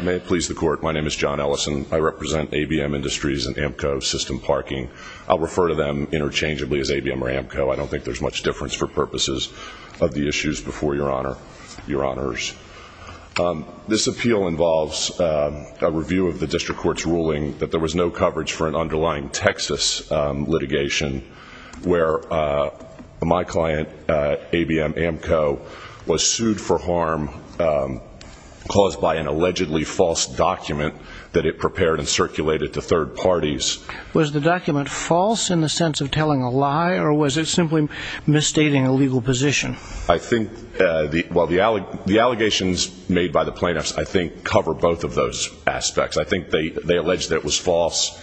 May it please the Court, my name is John Ellison. I represent ABM Industries and AMCO System Parking. I'll refer to them interchangeably as ABM or AMCO. I don't think there's much difference for purposes of the issues before Your Honor, Your Honors. This appeal involves a review of the District Court's ruling that there was no coverage for an underlying Texas litigation where my client, ABM AMCO, was sued for harm caused by an allegedly false document that it prepared and circulated to third parties. Was the document false in the sense of telling a lie or was it simply misstating a legal position? I think the allegations made by the plaintiffs, I think, cover both of those aspects. I think they allege that it was false,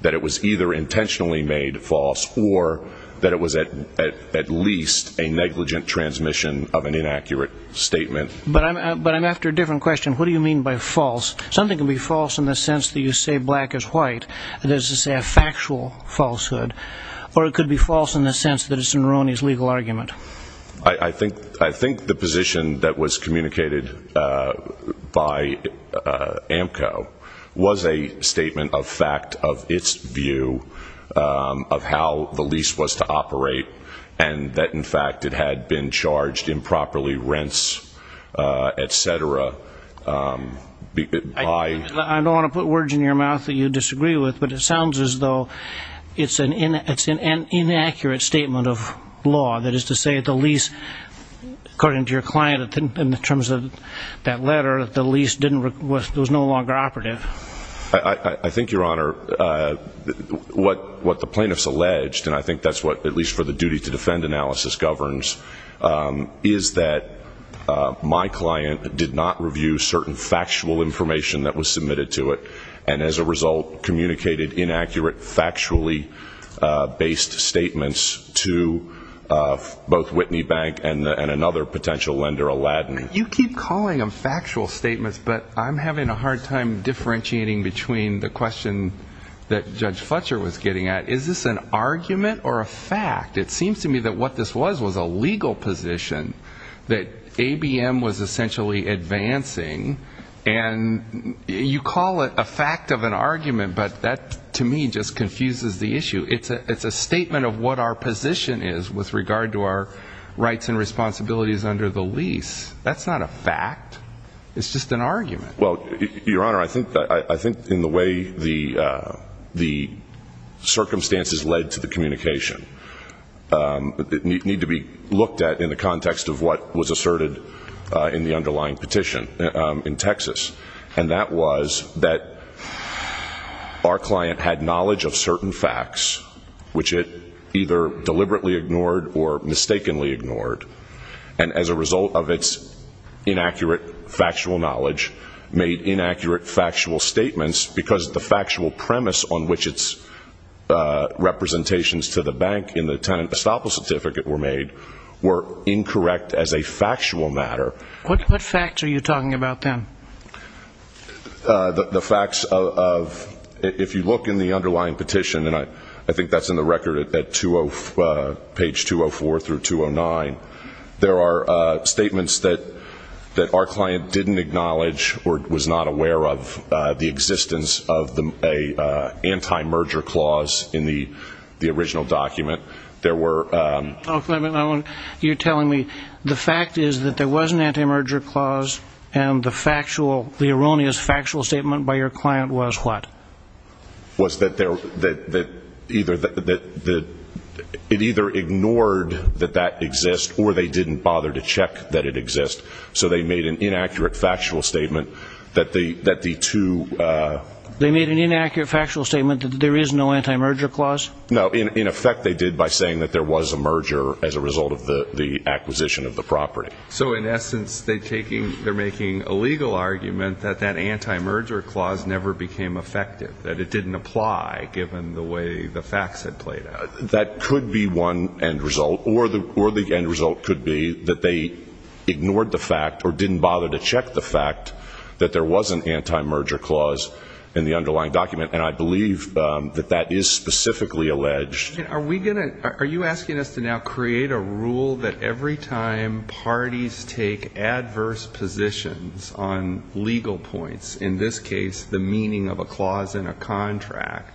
that it was either intentionally made false or that it was at least a negligent transmission of an inaccurate statement. But I'm after a different question. What do you mean by false? Something can be false in the sense that you say black is white. This is a factual falsehood. Or it could be false in the sense that it's in Roney's legal argument. I think the position that was communicated by AMCO was a statement of fact of its view of how the lease was to operate and that, in fact, it had been charged improperly, rents, etc. I don't want to put words in your mouth that you disagree with, but it sounds as though it's an inaccurate statement of law. That is to say, the lease, according to your client, in terms of that letter, the lease was no longer operative. I think, Your Honor, what the plaintiffs alleged, and I think that's what, at least for the duty to defend analysis, governs, is that my client did not review certain factual information that was submitted to it and, as a result, communicated inaccurate factually-based statements to both Whitney Bank and another potential lender, Aladdin. You keep calling them factual statements, but I'm having a hard time differentiating between the question that Judge Fletcher was getting at. Is this an argument or a fact? It seems to me that what this was was a legal position, that ABM was essentially advancing, and you call it a fact of an argument, but that, to me, just confuses the issue. It's a statement of what our position is with regard to our rights and responsibilities under the lease. That's not a fact. It's just an argument. Well, Your Honor, I think in the way the circumstances led to the communication need to be looked at in the context of what was asserted in the underlying petition in Texas, and that was that our client had knowledge of certain facts, which it either deliberately ignored or mistakenly ignored, and, as a result of its inaccurate factual knowledge, made inaccurate factual statements because the factual premise on which its representations to the bank in the tenant estoppel certificate were made were incorrect as a factual matter. What facts are you talking about then? The facts of, if you look in the underlying petition, and I think that's in the record at page 204 through 209, there are statements that our client didn't acknowledge or was not aware of, the existence of an anti-merger clause in the original document. You're telling me the fact is that there was an anti-merger clause and the erroneous factual statement by your client was what? Was that it either ignored that that exists or they didn't bother to check that it exists, so they made an inaccurate factual statement that the two... They made an inaccurate factual statement that there is no anti-merger clause? No. In effect, they did by saying that there was a merger as a result of the acquisition of the property. So, in essence, they're making a legal argument that that anti-merger clause never became effective, that it didn't apply given the way the facts had played out. That could be one end result, or the end result could be that they ignored the fact or didn't bother to check the fact that there was an anti-merger clause in the underlying document, and I believe that that is specifically alleged. Are we going to... Are you asking us to now create a rule that every time parties take adverse positions on legal points, in this case the meaning of a clause in a contract,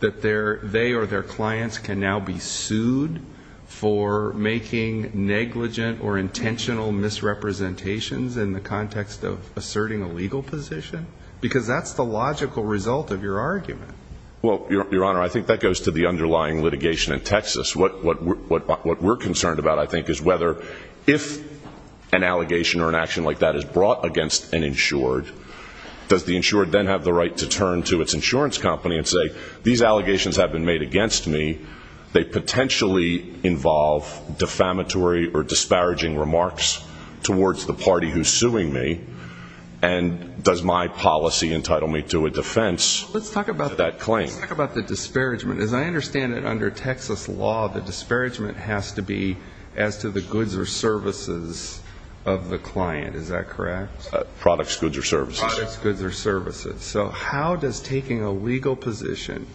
that they or their clients can now be sued for making negligent or intentional misrepresentations in the context of asserting a legal position? Because that's the logical result of your argument. Well, Your Honor, I think that goes to the underlying litigation in Texas. What we're concerned about, I think, is whether if an allegation or an action like that is brought against an insured, does the insured then have the right to turn to its insurance company and say, these allegations have been made against me, they potentially involve defamatory or disparaging remarks towards the party who's suing me, and does my policy entitle me to a defense of that claim? Let's talk about the disparagement. As I understand it, under Texas law, the disparagement has to be as to the goods or services of the client. Is that correct? Products, goods, or services. Products, goods, or services. So how does taking a legal position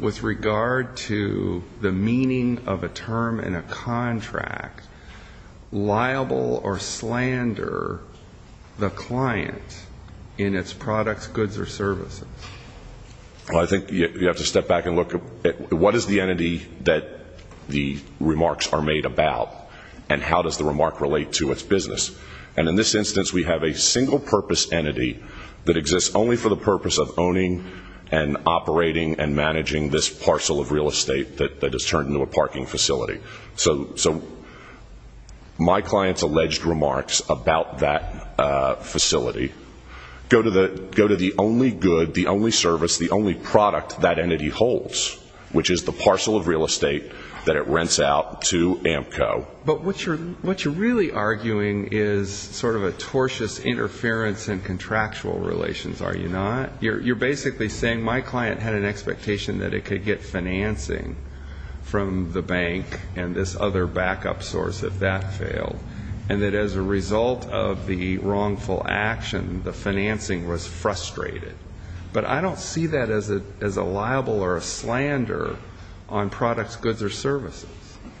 with regard to the meaning of a term in a contract liable or slander the client in its products, goods, or services? Well, I think you have to step back and look at what is the entity that the remarks are made about, and how does the remark relate to its business? And in this instance, we have a single-purpose entity that exists only for the purpose of owning and operating and managing this parcel of real estate that is turned into a parking facility. So my client's alleged remarks about that facility go to the only good, the only service, the only product that entity holds, which is the parcel of real estate that it rents out to Amco. But what you're really arguing is sort of a tortious interference in contractual relations, are you not? You're basically saying my client had an expectation that it could get financing from the bank and this other backup source if that failed, and that as a result of the wrongful action, the financing was frustrated. But I don't see that as a liable or a slander on products, goods, or services.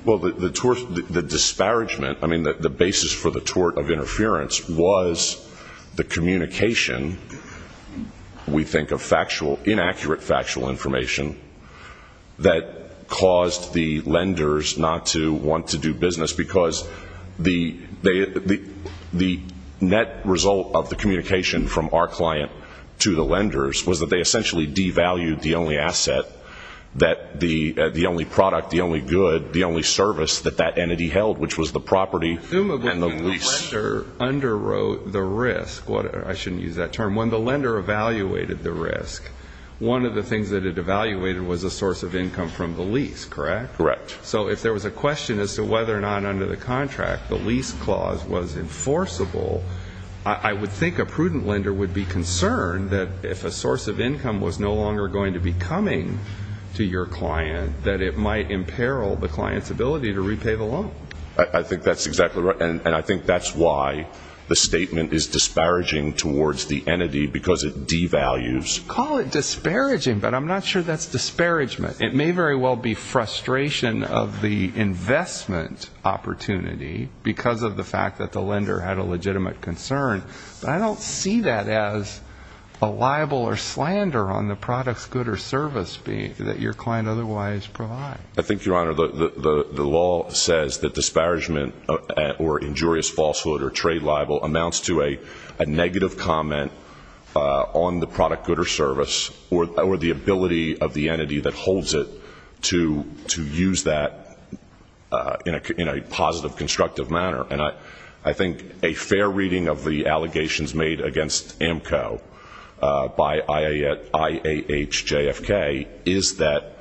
Well, the disparagement, I mean, the basis for the tort of interference was the communication, we think of inaccurate factual information, that caused the lenders not to want to do business because the net result of the communication from our client to the lenders was that they essentially devalued the only asset, the only product, the only good, the only service that that entity held, which was the property and the lease. And when the lender underwrote the risk, I shouldn't use that term, when the lender evaluated the risk, one of the things that it evaluated was a source of income from the lease, correct? Correct. So if there was a question as to whether or not under the contract the lease clause was enforceable, I would think a prudent lender would be concerned that if a source of income was no longer going to be coming to your client, that it might imperil the client's ability to repay the loan. I think that's exactly right, and I think that's why the statement is disparaging towards the entity, because it devalues. Call it disparaging, but I'm not sure that's disparagement. It may very well be frustration of the investment opportunity because of the fact that the lender had a legitimate concern, but I don't see that as a libel or slander on the product, good, or service that your client otherwise provides. I think, Your Honor, the law says that disparagement or injurious falsehood or trade libel amounts to a negative comment on the product, good, or service, or the ability of the entity that holds it to use that in a positive, constructive manner. And I think a fair reading of the allegations made against AMCO by IAHJFK is that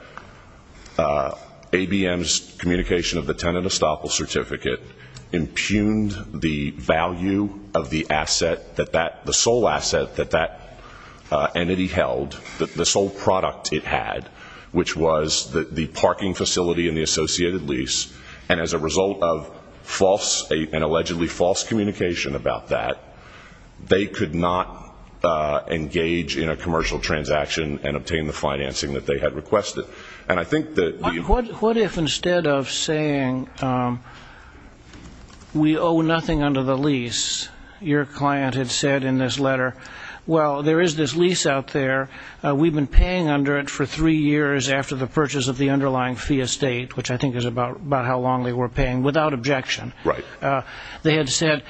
ABM's communication of the tenant estoppel certificate impugned the value of the asset, the sole asset that that entity held, the sole product it had, which was the parking facility and the associated lease, and as a result of false and allegedly false communication about that, they could not engage in a commercial transaction and obtain the financing that they had requested. What if instead of saying we owe nothing under the lease, your client had said in this letter, well, there is this lease out there. We've been paying under it for three years after the purchase of the underlying fee estate, which I think is about how long they were paying, without objection. Right. They had said,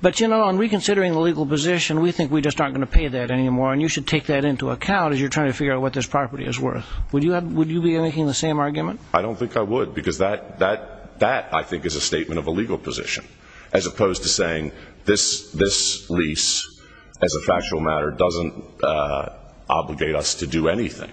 but, you know, in reconsidering the legal position, we think we just aren't going to pay that anymore, and you should take that into account as you're trying to figure out what this property is worth. Would you be making the same argument? I don't think I would, because that, I think, is a statement of a legal position, as opposed to saying this lease, as a factual matter, doesn't obligate us to do anything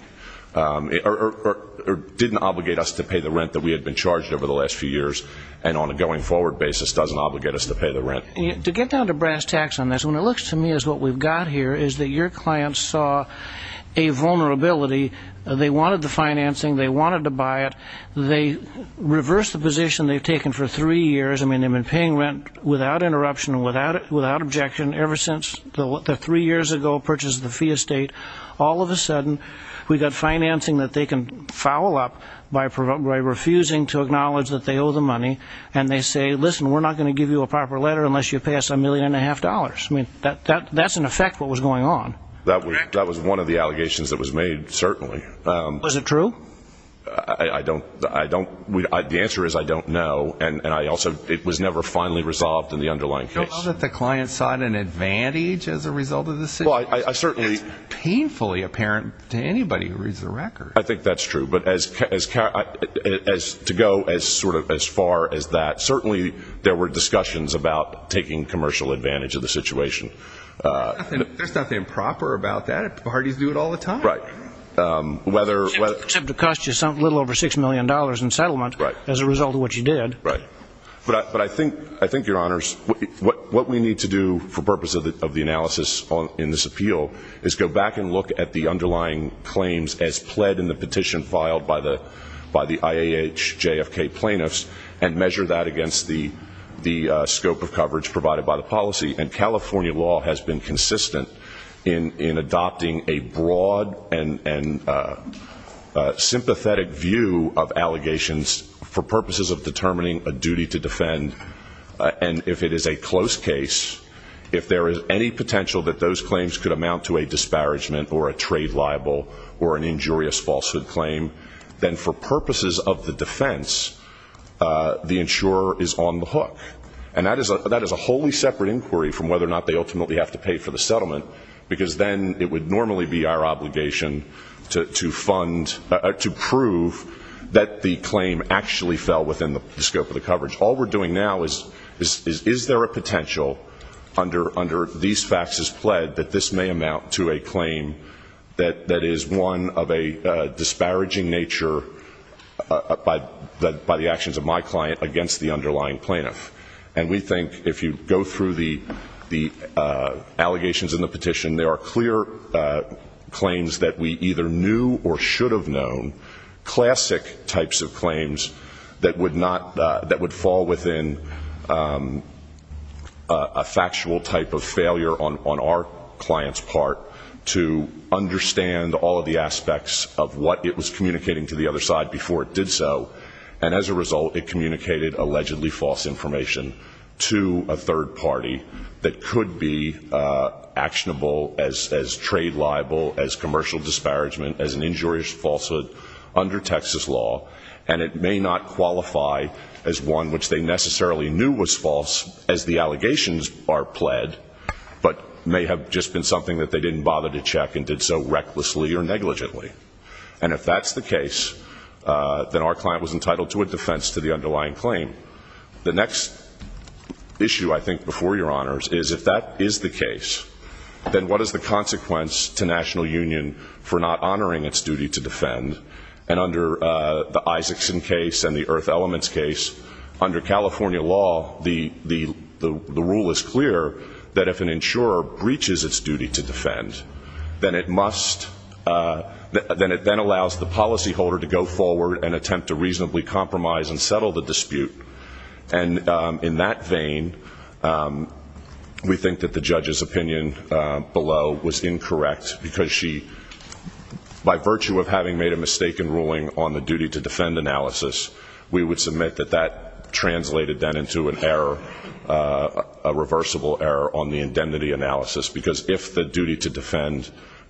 or didn't obligate us to pay the rent that we had been charged over the last few years and on a going forward basis doesn't obligate us to pay the rent. To get down to brass tacks on this, when it looks to me as what we've got here, is that your client saw a vulnerability. They wanted the financing. They wanted to buy it. They reversed the position they've taken for three years. I mean, they've been paying rent without interruption, without objection, ever since the three years ago purchase of the fee estate. All of a sudden, we've got financing that they can foul up by refusing to acknowledge that they owe the money, and they say, listen, we're not going to give you a proper letter unless you pay us a million and a half dollars. I mean, that's, in effect, what was going on. That was one of the allegations that was made, certainly. Was it true? I don't know. The answer is I don't know, and it was never finally resolved in the underlying case. You don't know that the client sought an advantage as a result of the situation? It's painfully apparent to anybody who reads the records. I think that's true. But to go as far as that, certainly there were discussions about taking commercial advantage of the situation. There's nothing proper about that. Parties do it all the time. Except it cost you a little over $6 million in settlement as a result of what you did. Right. But I think, Your Honors, what we need to do for purpose of the analysis in this appeal is go back and look at the underlying claims as pled in the petition filed by the IAHJFK plaintiffs and measure that against the scope of coverage provided by the policy. And California law has been consistent in adopting a broad and sympathetic view of allegations for purposes of determining a duty to defend. And if it is a close case, if there is any potential that those claims could amount to a disparagement or a trade libel or an injurious falsehood claim, then for purposes of the defense, the insurer is on the hook. And that is a wholly separate inquiry from whether or not they ultimately have to pay for the settlement because then it would normally be our obligation to prove that the claim actually fell within the scope of the coverage. All we're doing now is, is there a potential under these faxes pled that this may amount to a claim that is one of a disparaging nature by the actions of my client against the underlying plaintiff. And we think if you go through the allegations in the petition, there are clear claims that we either knew or should have known, classic types of claims that would fall within a factual type of failure on our client's part to understand all of the aspects of what it was communicating to the other side before it did so. And as a result, it communicated allegedly false information to a third party that could be actionable as trade libel, as commercial disparagement, as an injurious falsehood under Texas law. And it may not qualify as one which they necessarily knew was false as the allegations are pled, but may have just been something that they didn't bother to check and did so recklessly or negligently. And if that's the case, then our client was entitled to a defense to the underlying claim. The next issue, I think, before your honors, is if that is the case, then what is the consequence to National Union for not honoring its duty to defend? And under the Isaacson case and the Earth Elements case, under California law, the rule is clear that if an insurer breaches its duty to defend, then it must, then it then allows the policyholder to go forward and attempt to reasonably compromise and settle the dispute. And in that vein, we think that the judge's opinion below was incorrect because she, by virtue of having made a mistaken ruling on the duty to defend analysis, we would submit that that translated then into an error, a reversible error on the indemnity analysis. Because if the duty to defend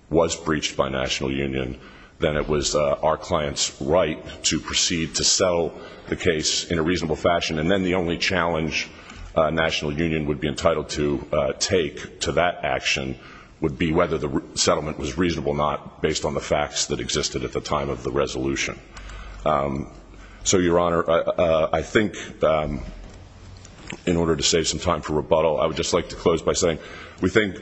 was breached by National Union, then it was our client's right to proceed to settle the case in a reasonable fashion. And then the only challenge National Union would be entitled to take to that action would be whether the settlement was reasonable or not, based on the facts that existed at the time of the resolution. So, Your Honor, I think in order to save some time for rebuttal, I would just like to close by saying, we think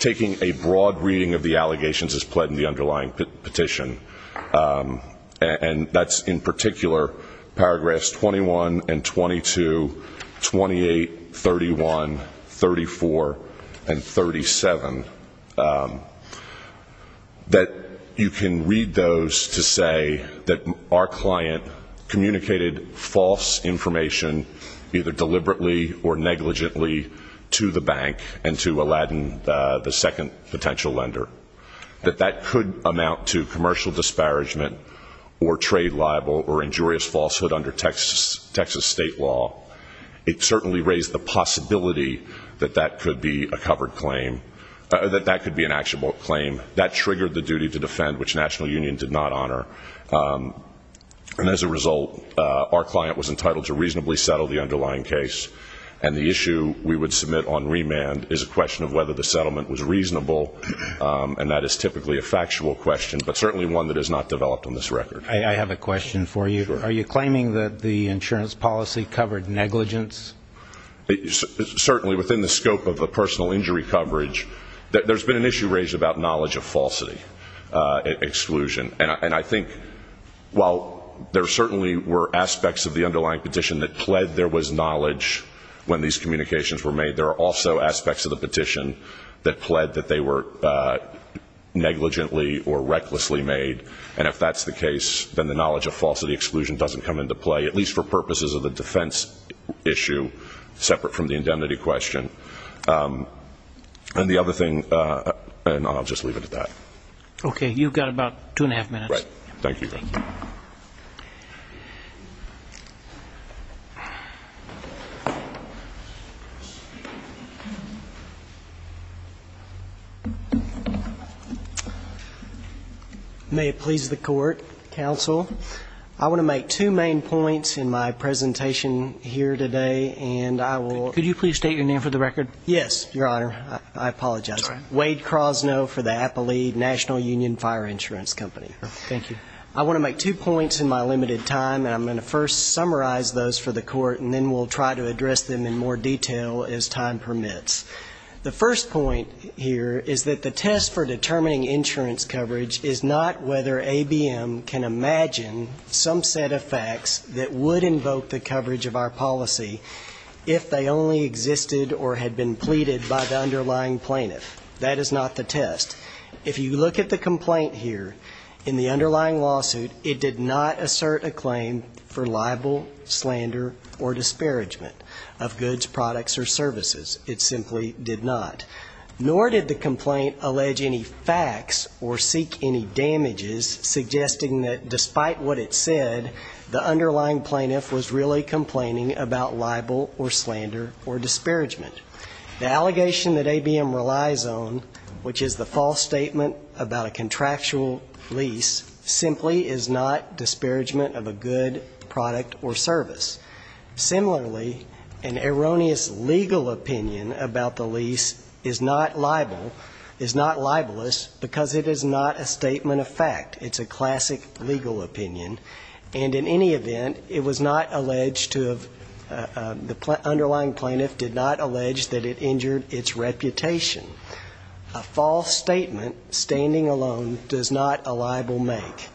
taking a broad reading of the allegations as pled in the underlying petition, and that's in particular paragraphs 21 and 22, 28, 31, 34, and 37, that you can read those to say that our client communicated false information, either deliberately or negligently, to the bank and to Aladdin, the second potential lender. That that could amount to commercial disparagement or trade libel or injurious falsehood under Texas state law. It certainly raised the possibility that that could be an actual claim. That triggered the duty to defend, which National Union did not honor. And as a result, our client was entitled to reasonably settle the underlying case. And the issue we would submit on remand is a question of whether the settlement was reasonable, and that is typically a factual question, but certainly one that is not developed on this record. I have a question for you. Sure. Are you claiming that the insurance policy covered negligence? Certainly, within the scope of the personal injury coverage, there's been an issue raised about knowledge of falsity, exclusion. And I think while there certainly were aspects of the underlying petition that pled there was knowledge when these communications were made, there are also aspects of the petition that pled that they were negligently or recklessly made. And if that's the case, then the knowledge of falsity exclusion doesn't come into play, at least for purposes of the defense issue separate from the indemnity question. And the other thing, and I'll just leave it at that. Okay. You've got about two and a half minutes. Right. Thank you. May it please the Court, counsel. I want to make two main points in my presentation here today, and I will ---- Could you please state your name for the record? Yes, Your Honor. I apologize. It's all right. I'm Wade Crosno for the Appalachian National Union Fire Insurance Company. Thank you. I want to make two points in my limited time, and I'm going to first summarize those for the Court, and then we'll try to address them in more detail as time permits. The first point here is that the test for determining insurance coverage is not whether ABM can imagine some set of facts that would invoke the coverage of our policy if they only existed or had been pleaded by the underlying plaintiff. That is not the test. If you look at the complaint here, in the underlying lawsuit, it did not assert a claim for libel, slander, or disparagement of goods, products, or services. It simply did not. Nor did the complaint allege any facts or seek any damages, suggesting that despite what it said, the underlying plaintiff was really complaining about libel or slander or disparagement. The allegation that ABM relies on, which is the false statement about a contractual lease, simply is not disparagement of a good, product, or service. Similarly, an erroneous legal opinion about the lease is not libel, is not libelous, because it is not a statement of fact. It's a classic legal opinion. And in any event, it was not alleged to have, the underlying plaintiff did not allege that it injured its reputation. A false statement, standing alone, does not a libel make.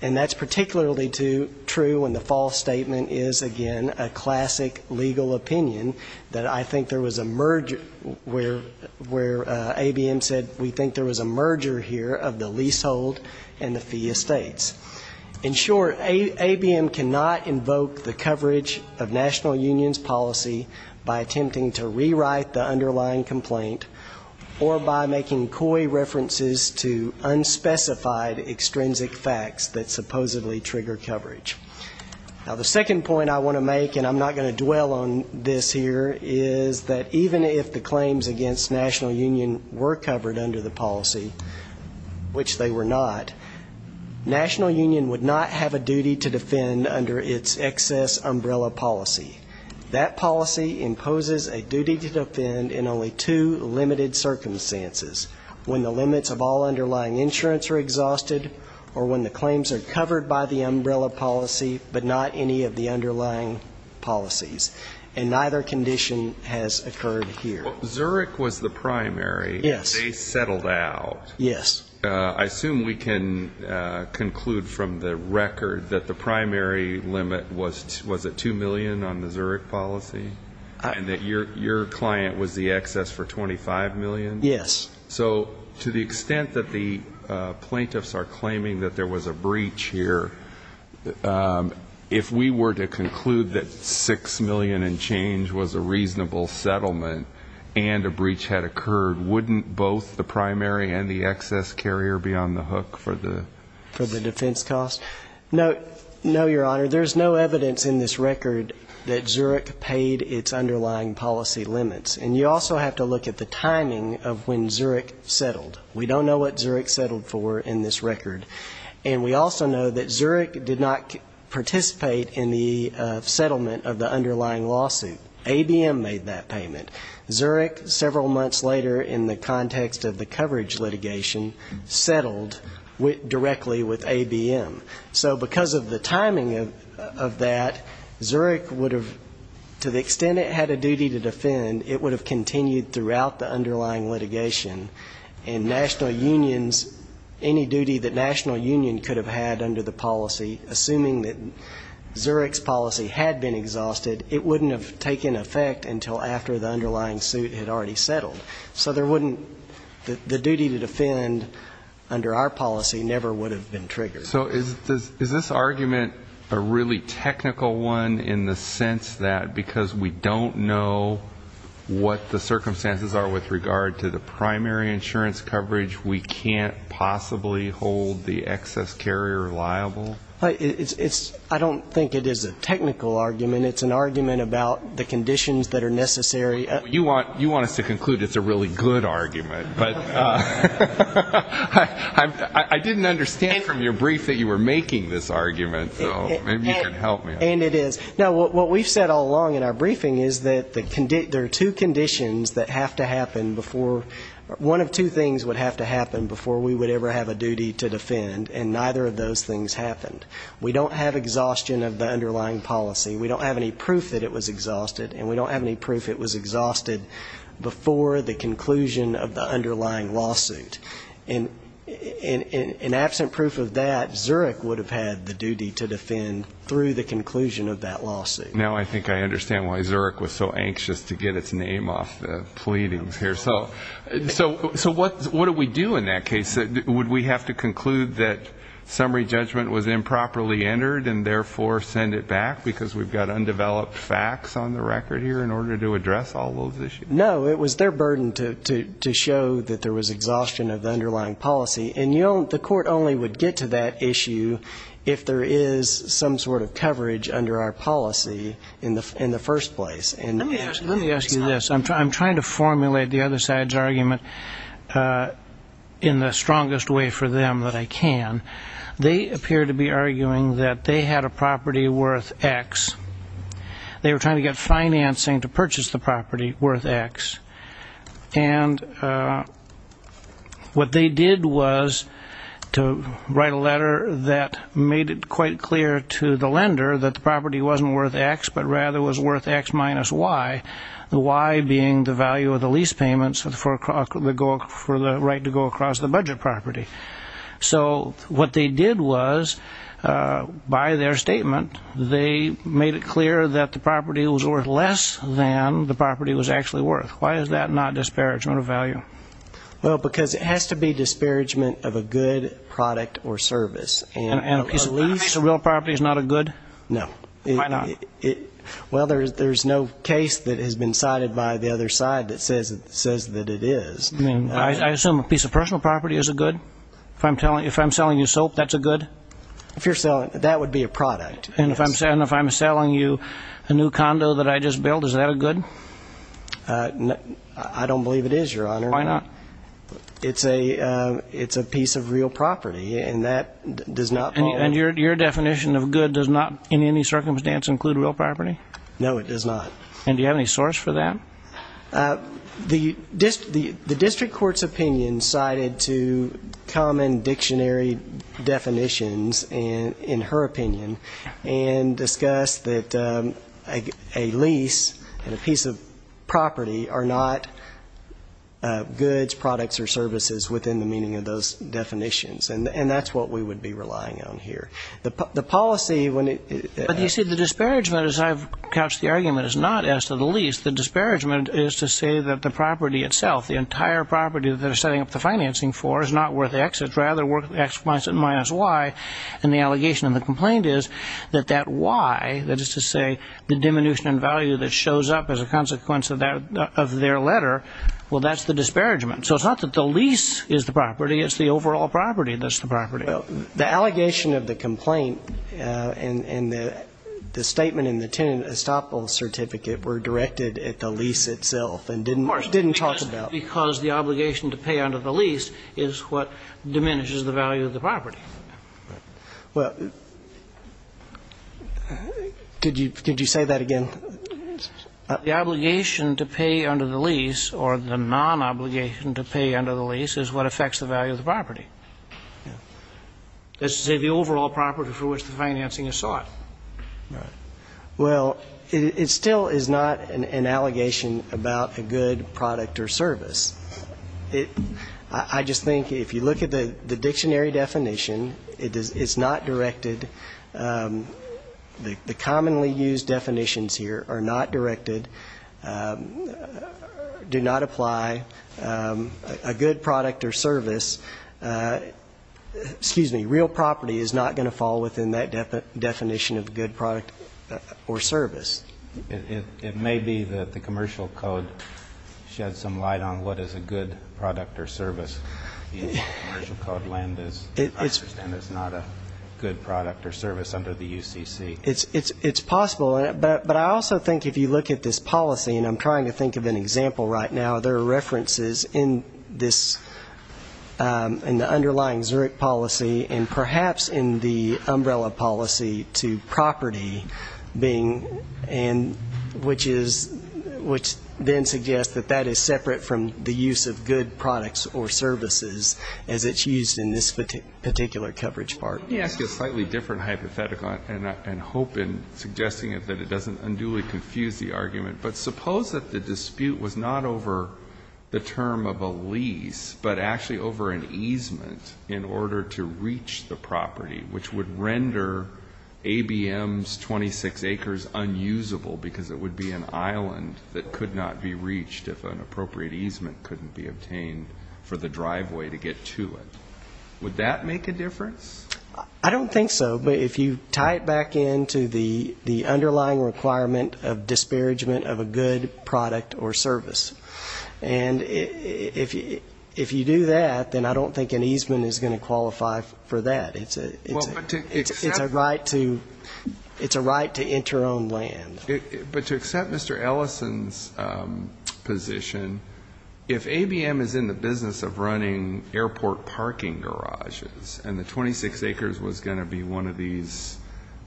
And that's particularly true when the false statement is, again, a classic legal opinion that I think there was a merger, where ABM said we think there was a merger here of the leasehold and the fee estates. In short, ABM cannot invoke the coverage of national union's policy by attempting to rewrite the underlying complaint, or by making coy references to unspecified extrinsic facts that supposedly trigger coverage. Now, the second point I want to make, and I'm not going to dwell on this here, is that even if the claims against national union were covered under the policy, which they were not, national union would not have a duty to defend under its excess umbrella policy. That policy imposes a duty to defend in only two limited circumstances, when the limits of all underlying insurance are exhausted or when the claims are covered by the umbrella policy, but not any of the underlying policies. And neither condition has occurred here. Well, Zurich was the primary. Yes. They settled out. Yes. I assume we can conclude from the record that the primary limit was at $2 million on the Zurich policy, and that your client was the excess for $25 million? Yes. So to the extent that the plaintiffs are claiming that there was a breach here, if we were to conclude that $6 million and change was a reasonable settlement and a breach had occurred, wouldn't both the primary and the excess carrier be on the hook for the defense cost? No, Your Honor. There's no evidence in this record that Zurich paid its underlying policy limits. And you also have to look at the timing of when Zurich settled. We don't know what Zurich settled for in this record. And we also know that Zurich did not participate in the settlement of the underlying lawsuit. ABM made that payment. Zurich, several months later in the context of the coverage litigation, settled directly with ABM. So because of the timing of that, Zurich would have, to the extent it had a duty to defend, it would have continued throughout the underlying litigation. And national unions, any duty that national union could have had under the policy, assuming that Zurich's policy had been exhausted, it wouldn't have taken effect until after the underlying suit had already settled. So there wouldn't the duty to defend under our policy never would have been triggered. So is this argument a really technical one in the sense that because we don't know what the circumstances are with regard to the primary insurance coverage, we can't possibly hold the excess carrier liable? I don't think it is a technical argument. It's an argument about the conditions that are necessary. You want us to conclude it's a really good argument. But I didn't understand from your brief that you were making this argument, so maybe you can help me. And it is. No, what we've said all along in our briefing is that there are two conditions that have to happen before one of two things would have to happen before we would ever have a duty to defend, and neither of those things happened. We don't have exhaustion of the underlying policy. We don't have any proof that it was exhausted, and we don't have any proof it was exhausted before the conclusion of the underlying lawsuit. And in absent proof of that, Zurich would have had the duty to defend through the conclusion of that lawsuit. Now I think I understand why Zurich was so anxious to get its name off the pleadings here. So what do we do in that case? Would we have to conclude that summary judgment was improperly entered and therefore send it back, because we've got undeveloped facts on the record here in order to address all those issues? No, it was their burden to show that there was exhaustion of the underlying policy. And the court only would get to that issue if there is some sort of coverage under our policy in the first place. Let me ask you this. I'm trying to formulate the other side's argument in the strongest way for them that I can. They appear to be arguing that they had a property worth X. They were trying to get financing to purchase the property worth X. And what they did was to write a letter that made it quite clear to the lender that the property wasn't worth X, but rather was worth X minus Y, the Y being the value of the lease payments for the right to go across the budget property. So what they did was, by their statement, they made it clear that the property was worth less than the property was actually worth. Why is that not disparagement of value? Well, because it has to be disparagement of a good product or service. A piece of real property is not a good? No. Why not? Well, there's no case that has been cited by the other side that says that it is. I assume a piece of personal property is a good? If I'm selling you soap, that's a good? That would be a product. And if I'm selling you a new condo that I just built, is that a good? I don't believe it is, Your Honor. Why not? It's a piece of real property, and that does not follow. And your definition of good does not in any circumstance include real property? No, it does not. And do you have any source for that? The district court's opinion cited two common dictionary definitions in her opinion and discussed that a lease and a piece of property are not goods, products, or services within the meaning of those definitions, and that's what we would be relying on here. The policy when it ---- Well, you see, the disparagement, as I've couched the argument, is not as to the lease. The disparagement is to say that the property itself, the entire property that they're setting up the financing for, is not worth X. It's rather worth X minus Y, and the allegation of the complaint is that that Y, that is to say the diminution in value that shows up as a consequence of their letter, well, that's the disparagement. So it's not that the lease is the property. It's the overall property that's the property. The allegation of the complaint and the statement in the tenant estoppel certificate were directed at the lease itself and didn't talk about it. Because the obligation to pay under the lease is what diminishes the value of the property. Well, did you say that again? The obligation to pay under the lease or the non-obligation to pay under the lease is what affects the value of the property. That's to say the overall property for which the financing is sought. Right. Well, it still is not an allegation about a good product or service. I just think if you look at the dictionary definition, it's not directed, the commonly used definitions here are not directed, do not apply, a good product or service, excuse me, real property is not going to fall within that definition of good product or service. It may be that the commercial code sheds some light on what is a good product or service. The commercial code, I understand, is not a good product or service under the UCC. It's possible, but I also think if you look at this policy, and I'm trying to think of an example right now, there are references in this, in the underlying Zurich policy, and perhaps in the umbrella policy to property being and which is, which then suggests that that is separate from the use of good products or services as it's used in this particular coverage part. Yes. It's a slightly different hypothetical, and I hope in suggesting it that it doesn't unduly confuse the argument. But suppose that the dispute was not over the term of a lease, but actually over an easement in order to reach the property, which would render ABM's 26 acres unusable because it would be an island that could not be reached if an appropriate easement couldn't be obtained for the driveway to get to it. Would that make a difference? I don't think so. But if you tie it back in to the underlying requirement of disparagement of a good product or service, and if you do that, then I don't think an easement is going to qualify for that. It's a right to enter on land. But to accept Mr. Ellison's position, if ABM is in the business of running airport parking garages and the 26 acres was going to be one of these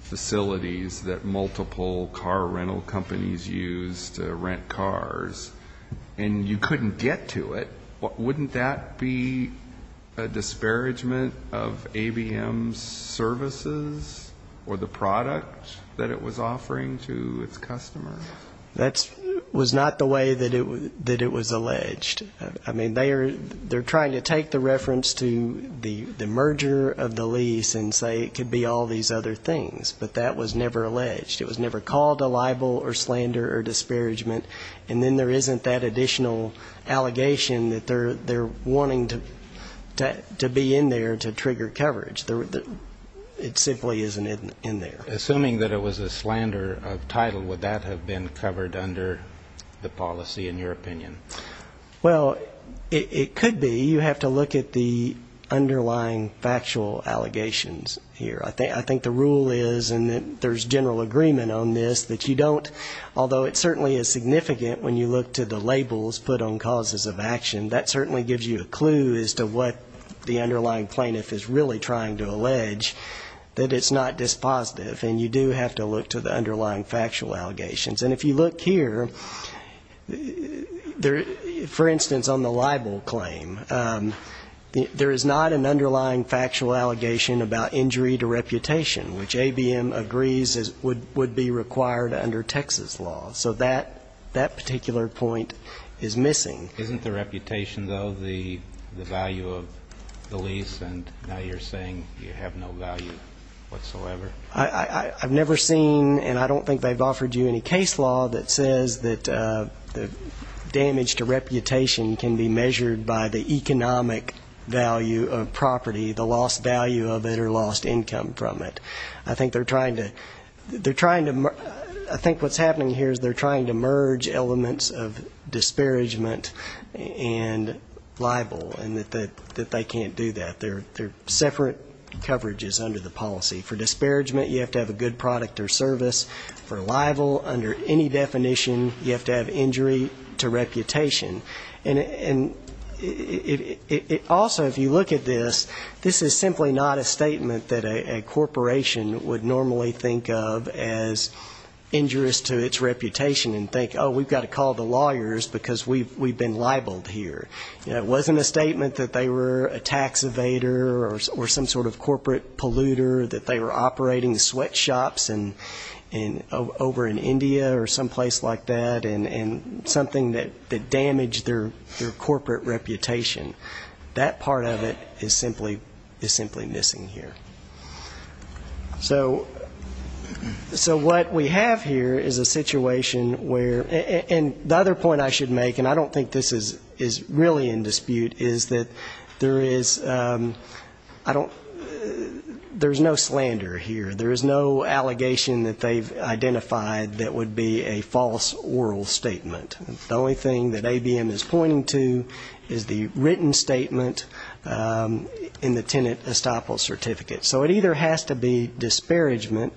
facilities that multiple car rental companies use to rent cars and you couldn't get to it, wouldn't that be a disparagement of ABM's services or the product that it was offering to its customers? That was not the way that it was alleged. I mean, they're trying to take the reference to the merger of the lease and say it could be all these other things, but that was never alleged. It was never called a libel or slander or disparagement. And then there isn't that additional allegation that they're wanting to be in there to trigger coverage. It simply isn't in there. Assuming that it was a slander of title, would that have been covered under the policy, in your opinion? Well, it could be. You have to look at the underlying factual allegations here. I think the rule is, and there's general agreement on this, that you don't, although it certainly is significant when you look to the labels put on causes of action, that certainly gives you a clue as to what the underlying plaintiff is really trying to allege, that it's not dispositive, and you do have to look to the underlying factual allegations. And if you look here, for instance, on the libel claim, there is not an underlying factual allegation about injury to reputation, which ABM agrees would be required under Texas law. So that particular point is missing. Isn't the reputation, though, the value of the lease? And now you're saying you have no value whatsoever. I've never seen, and I don't think they've offered you any case law that says that damage to reputation can be measured by the economic value of property, the lost value of it or lost income from it. I think they're trying to merge elements of disparagement and libel, and that they can't do that. They're separate coverages under the policy. For disparagement, you have to have a good product or service. For libel, under any definition, you have to have injury to reputation. And it also, if you look at this, this is simply not a statement that a corporation would normally think of as injurious to its reputation and think, oh, we've got to call the lawyers, because we've been libeled here. It wasn't a statement that they were a tax evader or some sort of corporate polluter, that they were operating sweatshops over in India or someplace like that, and something that damaged their corporate reputation. That part of it is simply missing here. So what we have here is a situation where the other point I should make, and I don't think this is really in dispute, is that there is no slander here. There is no allegation that they've identified that would be a false oral statement. The only thing that ABM is pointing to is the written statement in the tenant estoppel certificate. So it either has to be disparagement,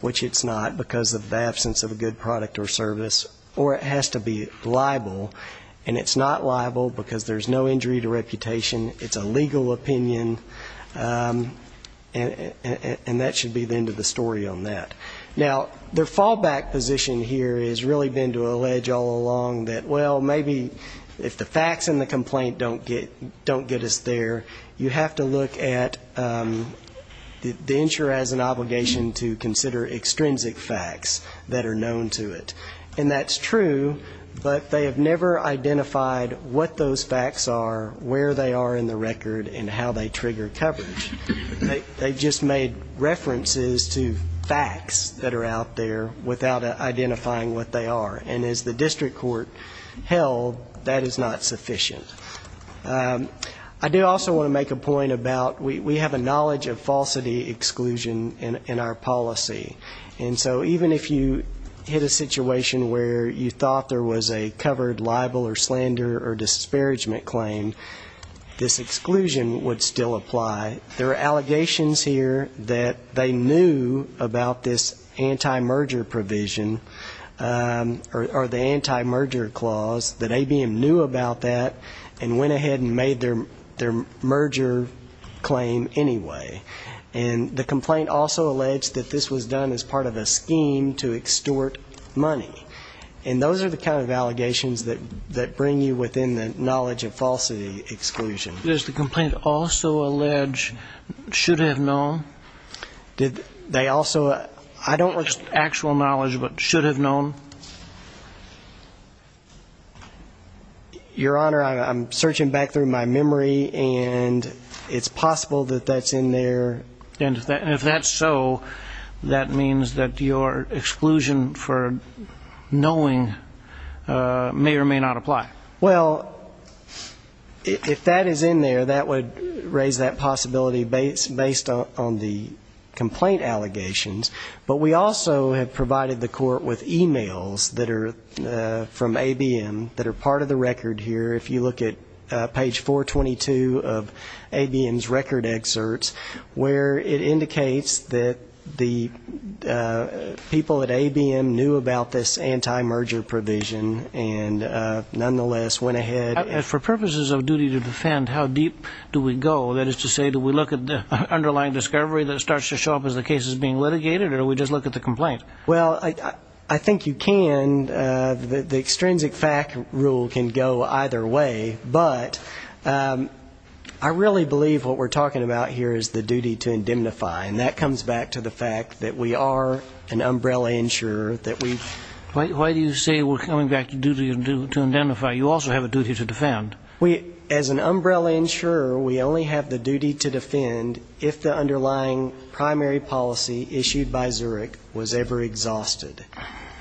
which it's not because of the absence of a good product or service, or it has to be libel, and it's not libel because there's no injury to reputation. It's a legal opinion, and that should be the end of the story on that. Now, their fallback position here has really been to allege all along that, well, maybe if the facts in the complaint don't get us there, you have to look at the insurer as an obligation to consider extrinsic facts that are known to it. And that's true, but they have never identified what those facts are, where they are in the record, and how they trigger coverage. They've just made references to facts that are out there without identifying what they are. And as the district court held, that is not sufficient. I do also want to make a point about we have a knowledge of falsity exclusion in our policy. And so even if you hit a situation where you thought there was a covered libel or slander or disparagement claim, this exclusion would still apply. There are allegations here that they knew about this anti-merger provision, or the anti-merger clause, that ABM knew about that and went ahead and made their merger claim anyway. And the complaint also alleged that this was done as part of a scheme to extort money. And those are the kind of allegations that bring you within the knowledge of falsity exclusion. Does the complaint also allege should have known? Did they also, I don't know actual knowledge, but should have known? Your Honor, I'm searching back through my memory, and it's possible that that's in there. And if that's so, that means that your exclusion for knowing may or may not apply. Well, if that is in there, that would raise that possibility based on the complaint allegations. But we also have provided the Court with e-mails that are from ABM that are part of the record here. If you look at page 422 of ABM's record excerpts, where it indicates that the people at ABM knew about this anti-merger provision, and nonetheless went ahead. And for purposes of duty to defend, how deep do we go? That is to say, do we look at the underlying discovery that starts to show up as the case is being litigated, or do we just look at the complaint? Well, I think you can. The extrinsic fact rule can go either way. But I really believe what we're talking about here is the duty to indemnify. And that comes back to the fact that we are an umbrella insurer. Why do you say we're coming back to duty to indemnify? You also have a duty to defend. As an umbrella insurer, we only have the duty to defend if the underlying primary policy issued by Zurich was ever exhausted.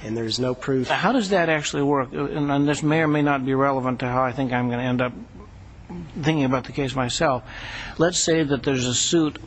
And there's no proof. How does that actually work? And this may or may not be relevant to how I think I'm going to end up thinking about the case myself. Let's say that there's a suit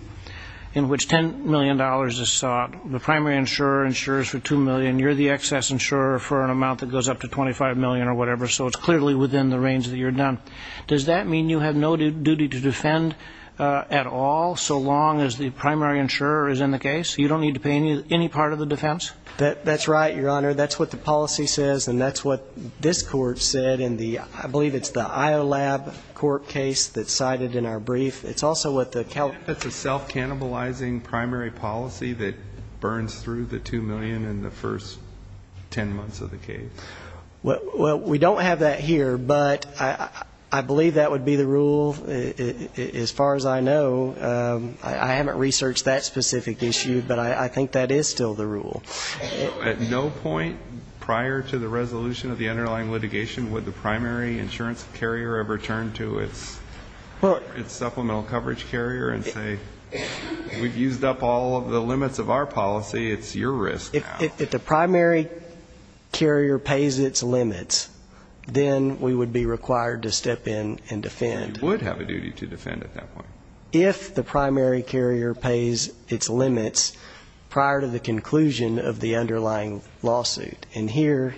in which $10 million is sought. The primary insurer insures for $2 million. You're the excess insurer for an amount that goes up to $25 million or whatever. So it's clearly within the range that you're done. Does that mean you have no duty to defend at all, so long as the primary insurer is in the case? You don't need to pay any part of the defense? That's right, Your Honor. That's what the policy says, and that's what this court said in the, I believe it's the IOLAB court case that's cited in our brief. It's also what the Calif. It's a self-cannibalizing primary policy that burns through the $2 million in the first ten months of the case. Well, we don't have that here, but I believe that would be the rule as far as I know. I haven't researched that specific issue, but I think that is still the rule. At no point prior to the resolution of the underlying litigation would the primary insurance carrier ever turn to its supplemental coverage carrier and say we've used up all of the limits of our policy, it's your risk now. If the primary carrier pays its limits, then we would be required to step in and defend. You would have a duty to defend at that point. If the primary carrier pays its limits prior to the conclusion of the underlying lawsuit. And here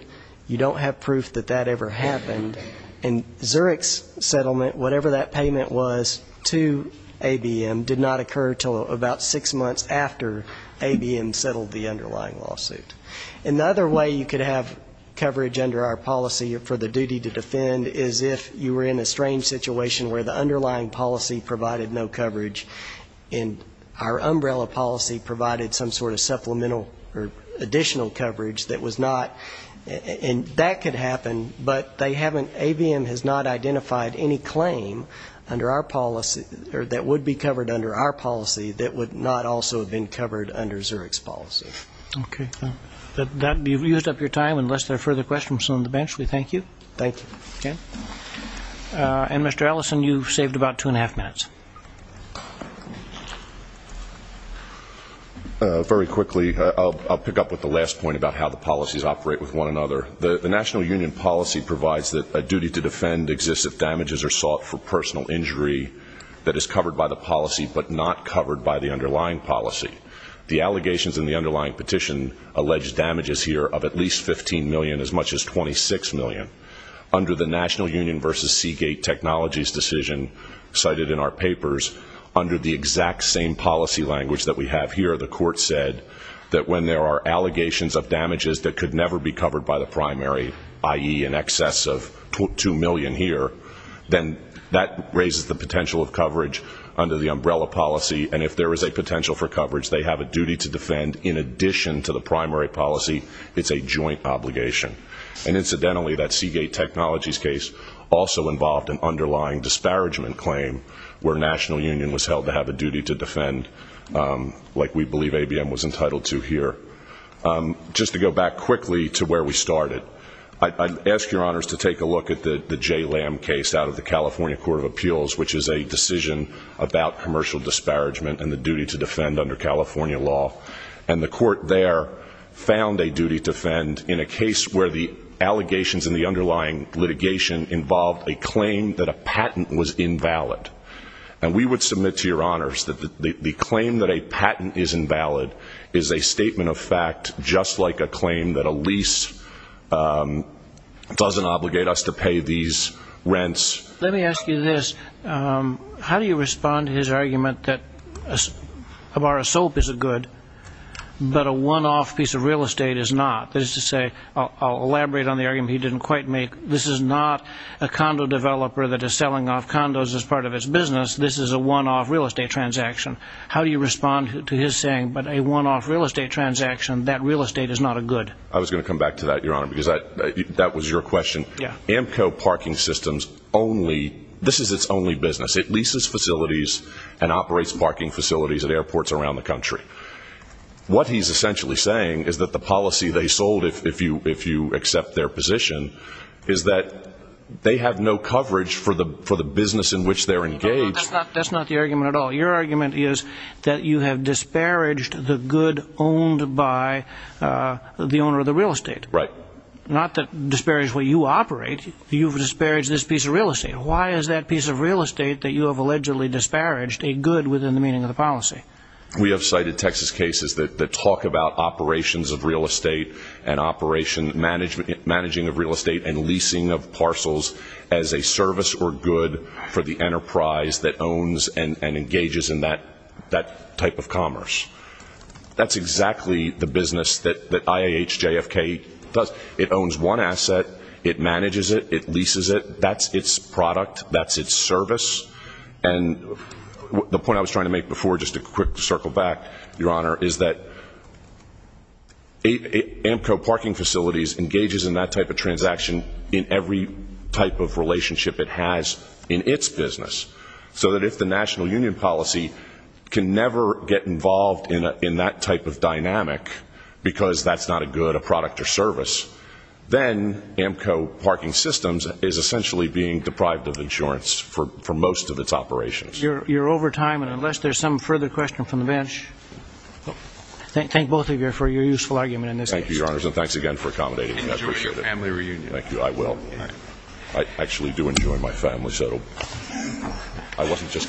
you don't have proof that that ever happened. And Zurich's settlement, whatever that payment was, to ABM did not occur until about six months after ABM settled the underlying lawsuit. Another way you could have coverage under our policy for the duty to defend is if you were in a strange situation where the underlying policy provided no coverage and our umbrella policy provided some sort of supplemental or additional coverage that was not. And that could happen, but ABM has not identified any claim under our policy that would be covered under our policy that would not also have been covered under Zurich's policy. Okay. That will be used up your time unless there are further questions on the bench. We thank you. And Mr. Ellison, you saved about two and a half minutes. Very quickly, I'll pick up with the last point about how the policies operate with one another. The national union policy provides that a duty to defend exists if damages are sought for personal injury that is covered by the policy, but not covered by the underlying policy. The allegations in the underlying petition allege damages here of at least 15 million as much as 26 million. Under the national union versus Seagate technologies decision cited in our papers, under the exact same policy language that we have here, the court said that when there are allegations of damages that could never be covered by the primary, i.e. in excess of 2 million here, then that raises the potential of coverage under the umbrella policy. And if there is a potential for coverage, they have a duty to defend in addition to the primary policy. It's a joint obligation. And incidentally, that Seagate technologies case also involved an underlying disparagement claim where national union was held to have a duty to defend, like we believe ABM was entitled to here. Just to go back quickly to where we started, I'd ask your honors to take a look at the Jay Lamb case out of the California Court of Appeals, which is a decision about commercial disparagement and the duty to defend under California law. And the court there found a duty to defend in a case where the allegations in the underlying litigation involved a claim that a patent was invalid. And we would submit to your honors that the claim that a patent is invalid is a statement of fact just like a claim that a lease doesn't obligate us to pay these rents. Let me ask you this. How do you respond to his argument that a bar of soap is a good, but a one-off piece of real estate is not? That is to say, I'll elaborate on the argument he didn't quite make. This is not a condo developer that is selling off condos as part of its business. This is a one-off real estate transaction. How do you respond to his saying, but a one-off real estate transaction, that real estate is not a good? I was going to come back to that, your honor, because that was your question. Amco Parking Systems only, this is its only business. It leases facilities and operates parking facilities at airports around the country. What he's essentially saying is that the policy they sold, if you accept their position, is that they have no coverage for the business in which they're engaged. That's not the argument at all. Your argument is that you have disparaged the good owned by the owner of the real estate. Not that disparage what you operate, you've disparaged this piece of real estate. Why is that piece of real estate that you have allegedly disparaged a good within the meaning of the policy? We have cited Texas cases that talk about operations of real estate and operation, managing of real estate and leasing of parcels as a service or good for the enterprise that owns and engages in that type of commerce. That's exactly the business that IAHJFK does. It owns one asset, it manages it, it leases it, that's its product, that's its service. And the point I was trying to make before, just a quick circle back, your honor, is that Amco Parking Facilities engages in that type of transaction in every type of relationship it has in its business. So that if the national union policy can never get involved in that type of dynamic, because that's not a good, a product or service, then Amco Parking Systems is essentially being deprived of insurance for most of its operations. You're over time, and unless there's some further question from the bench, thank both of you for your useful argument in this case. Thank you, your honors, and thanks again for accommodating me. I appreciate it. Enjoy your family reunion. Thank you, I will. I actually do enjoy my family, so I wasn't just kidding.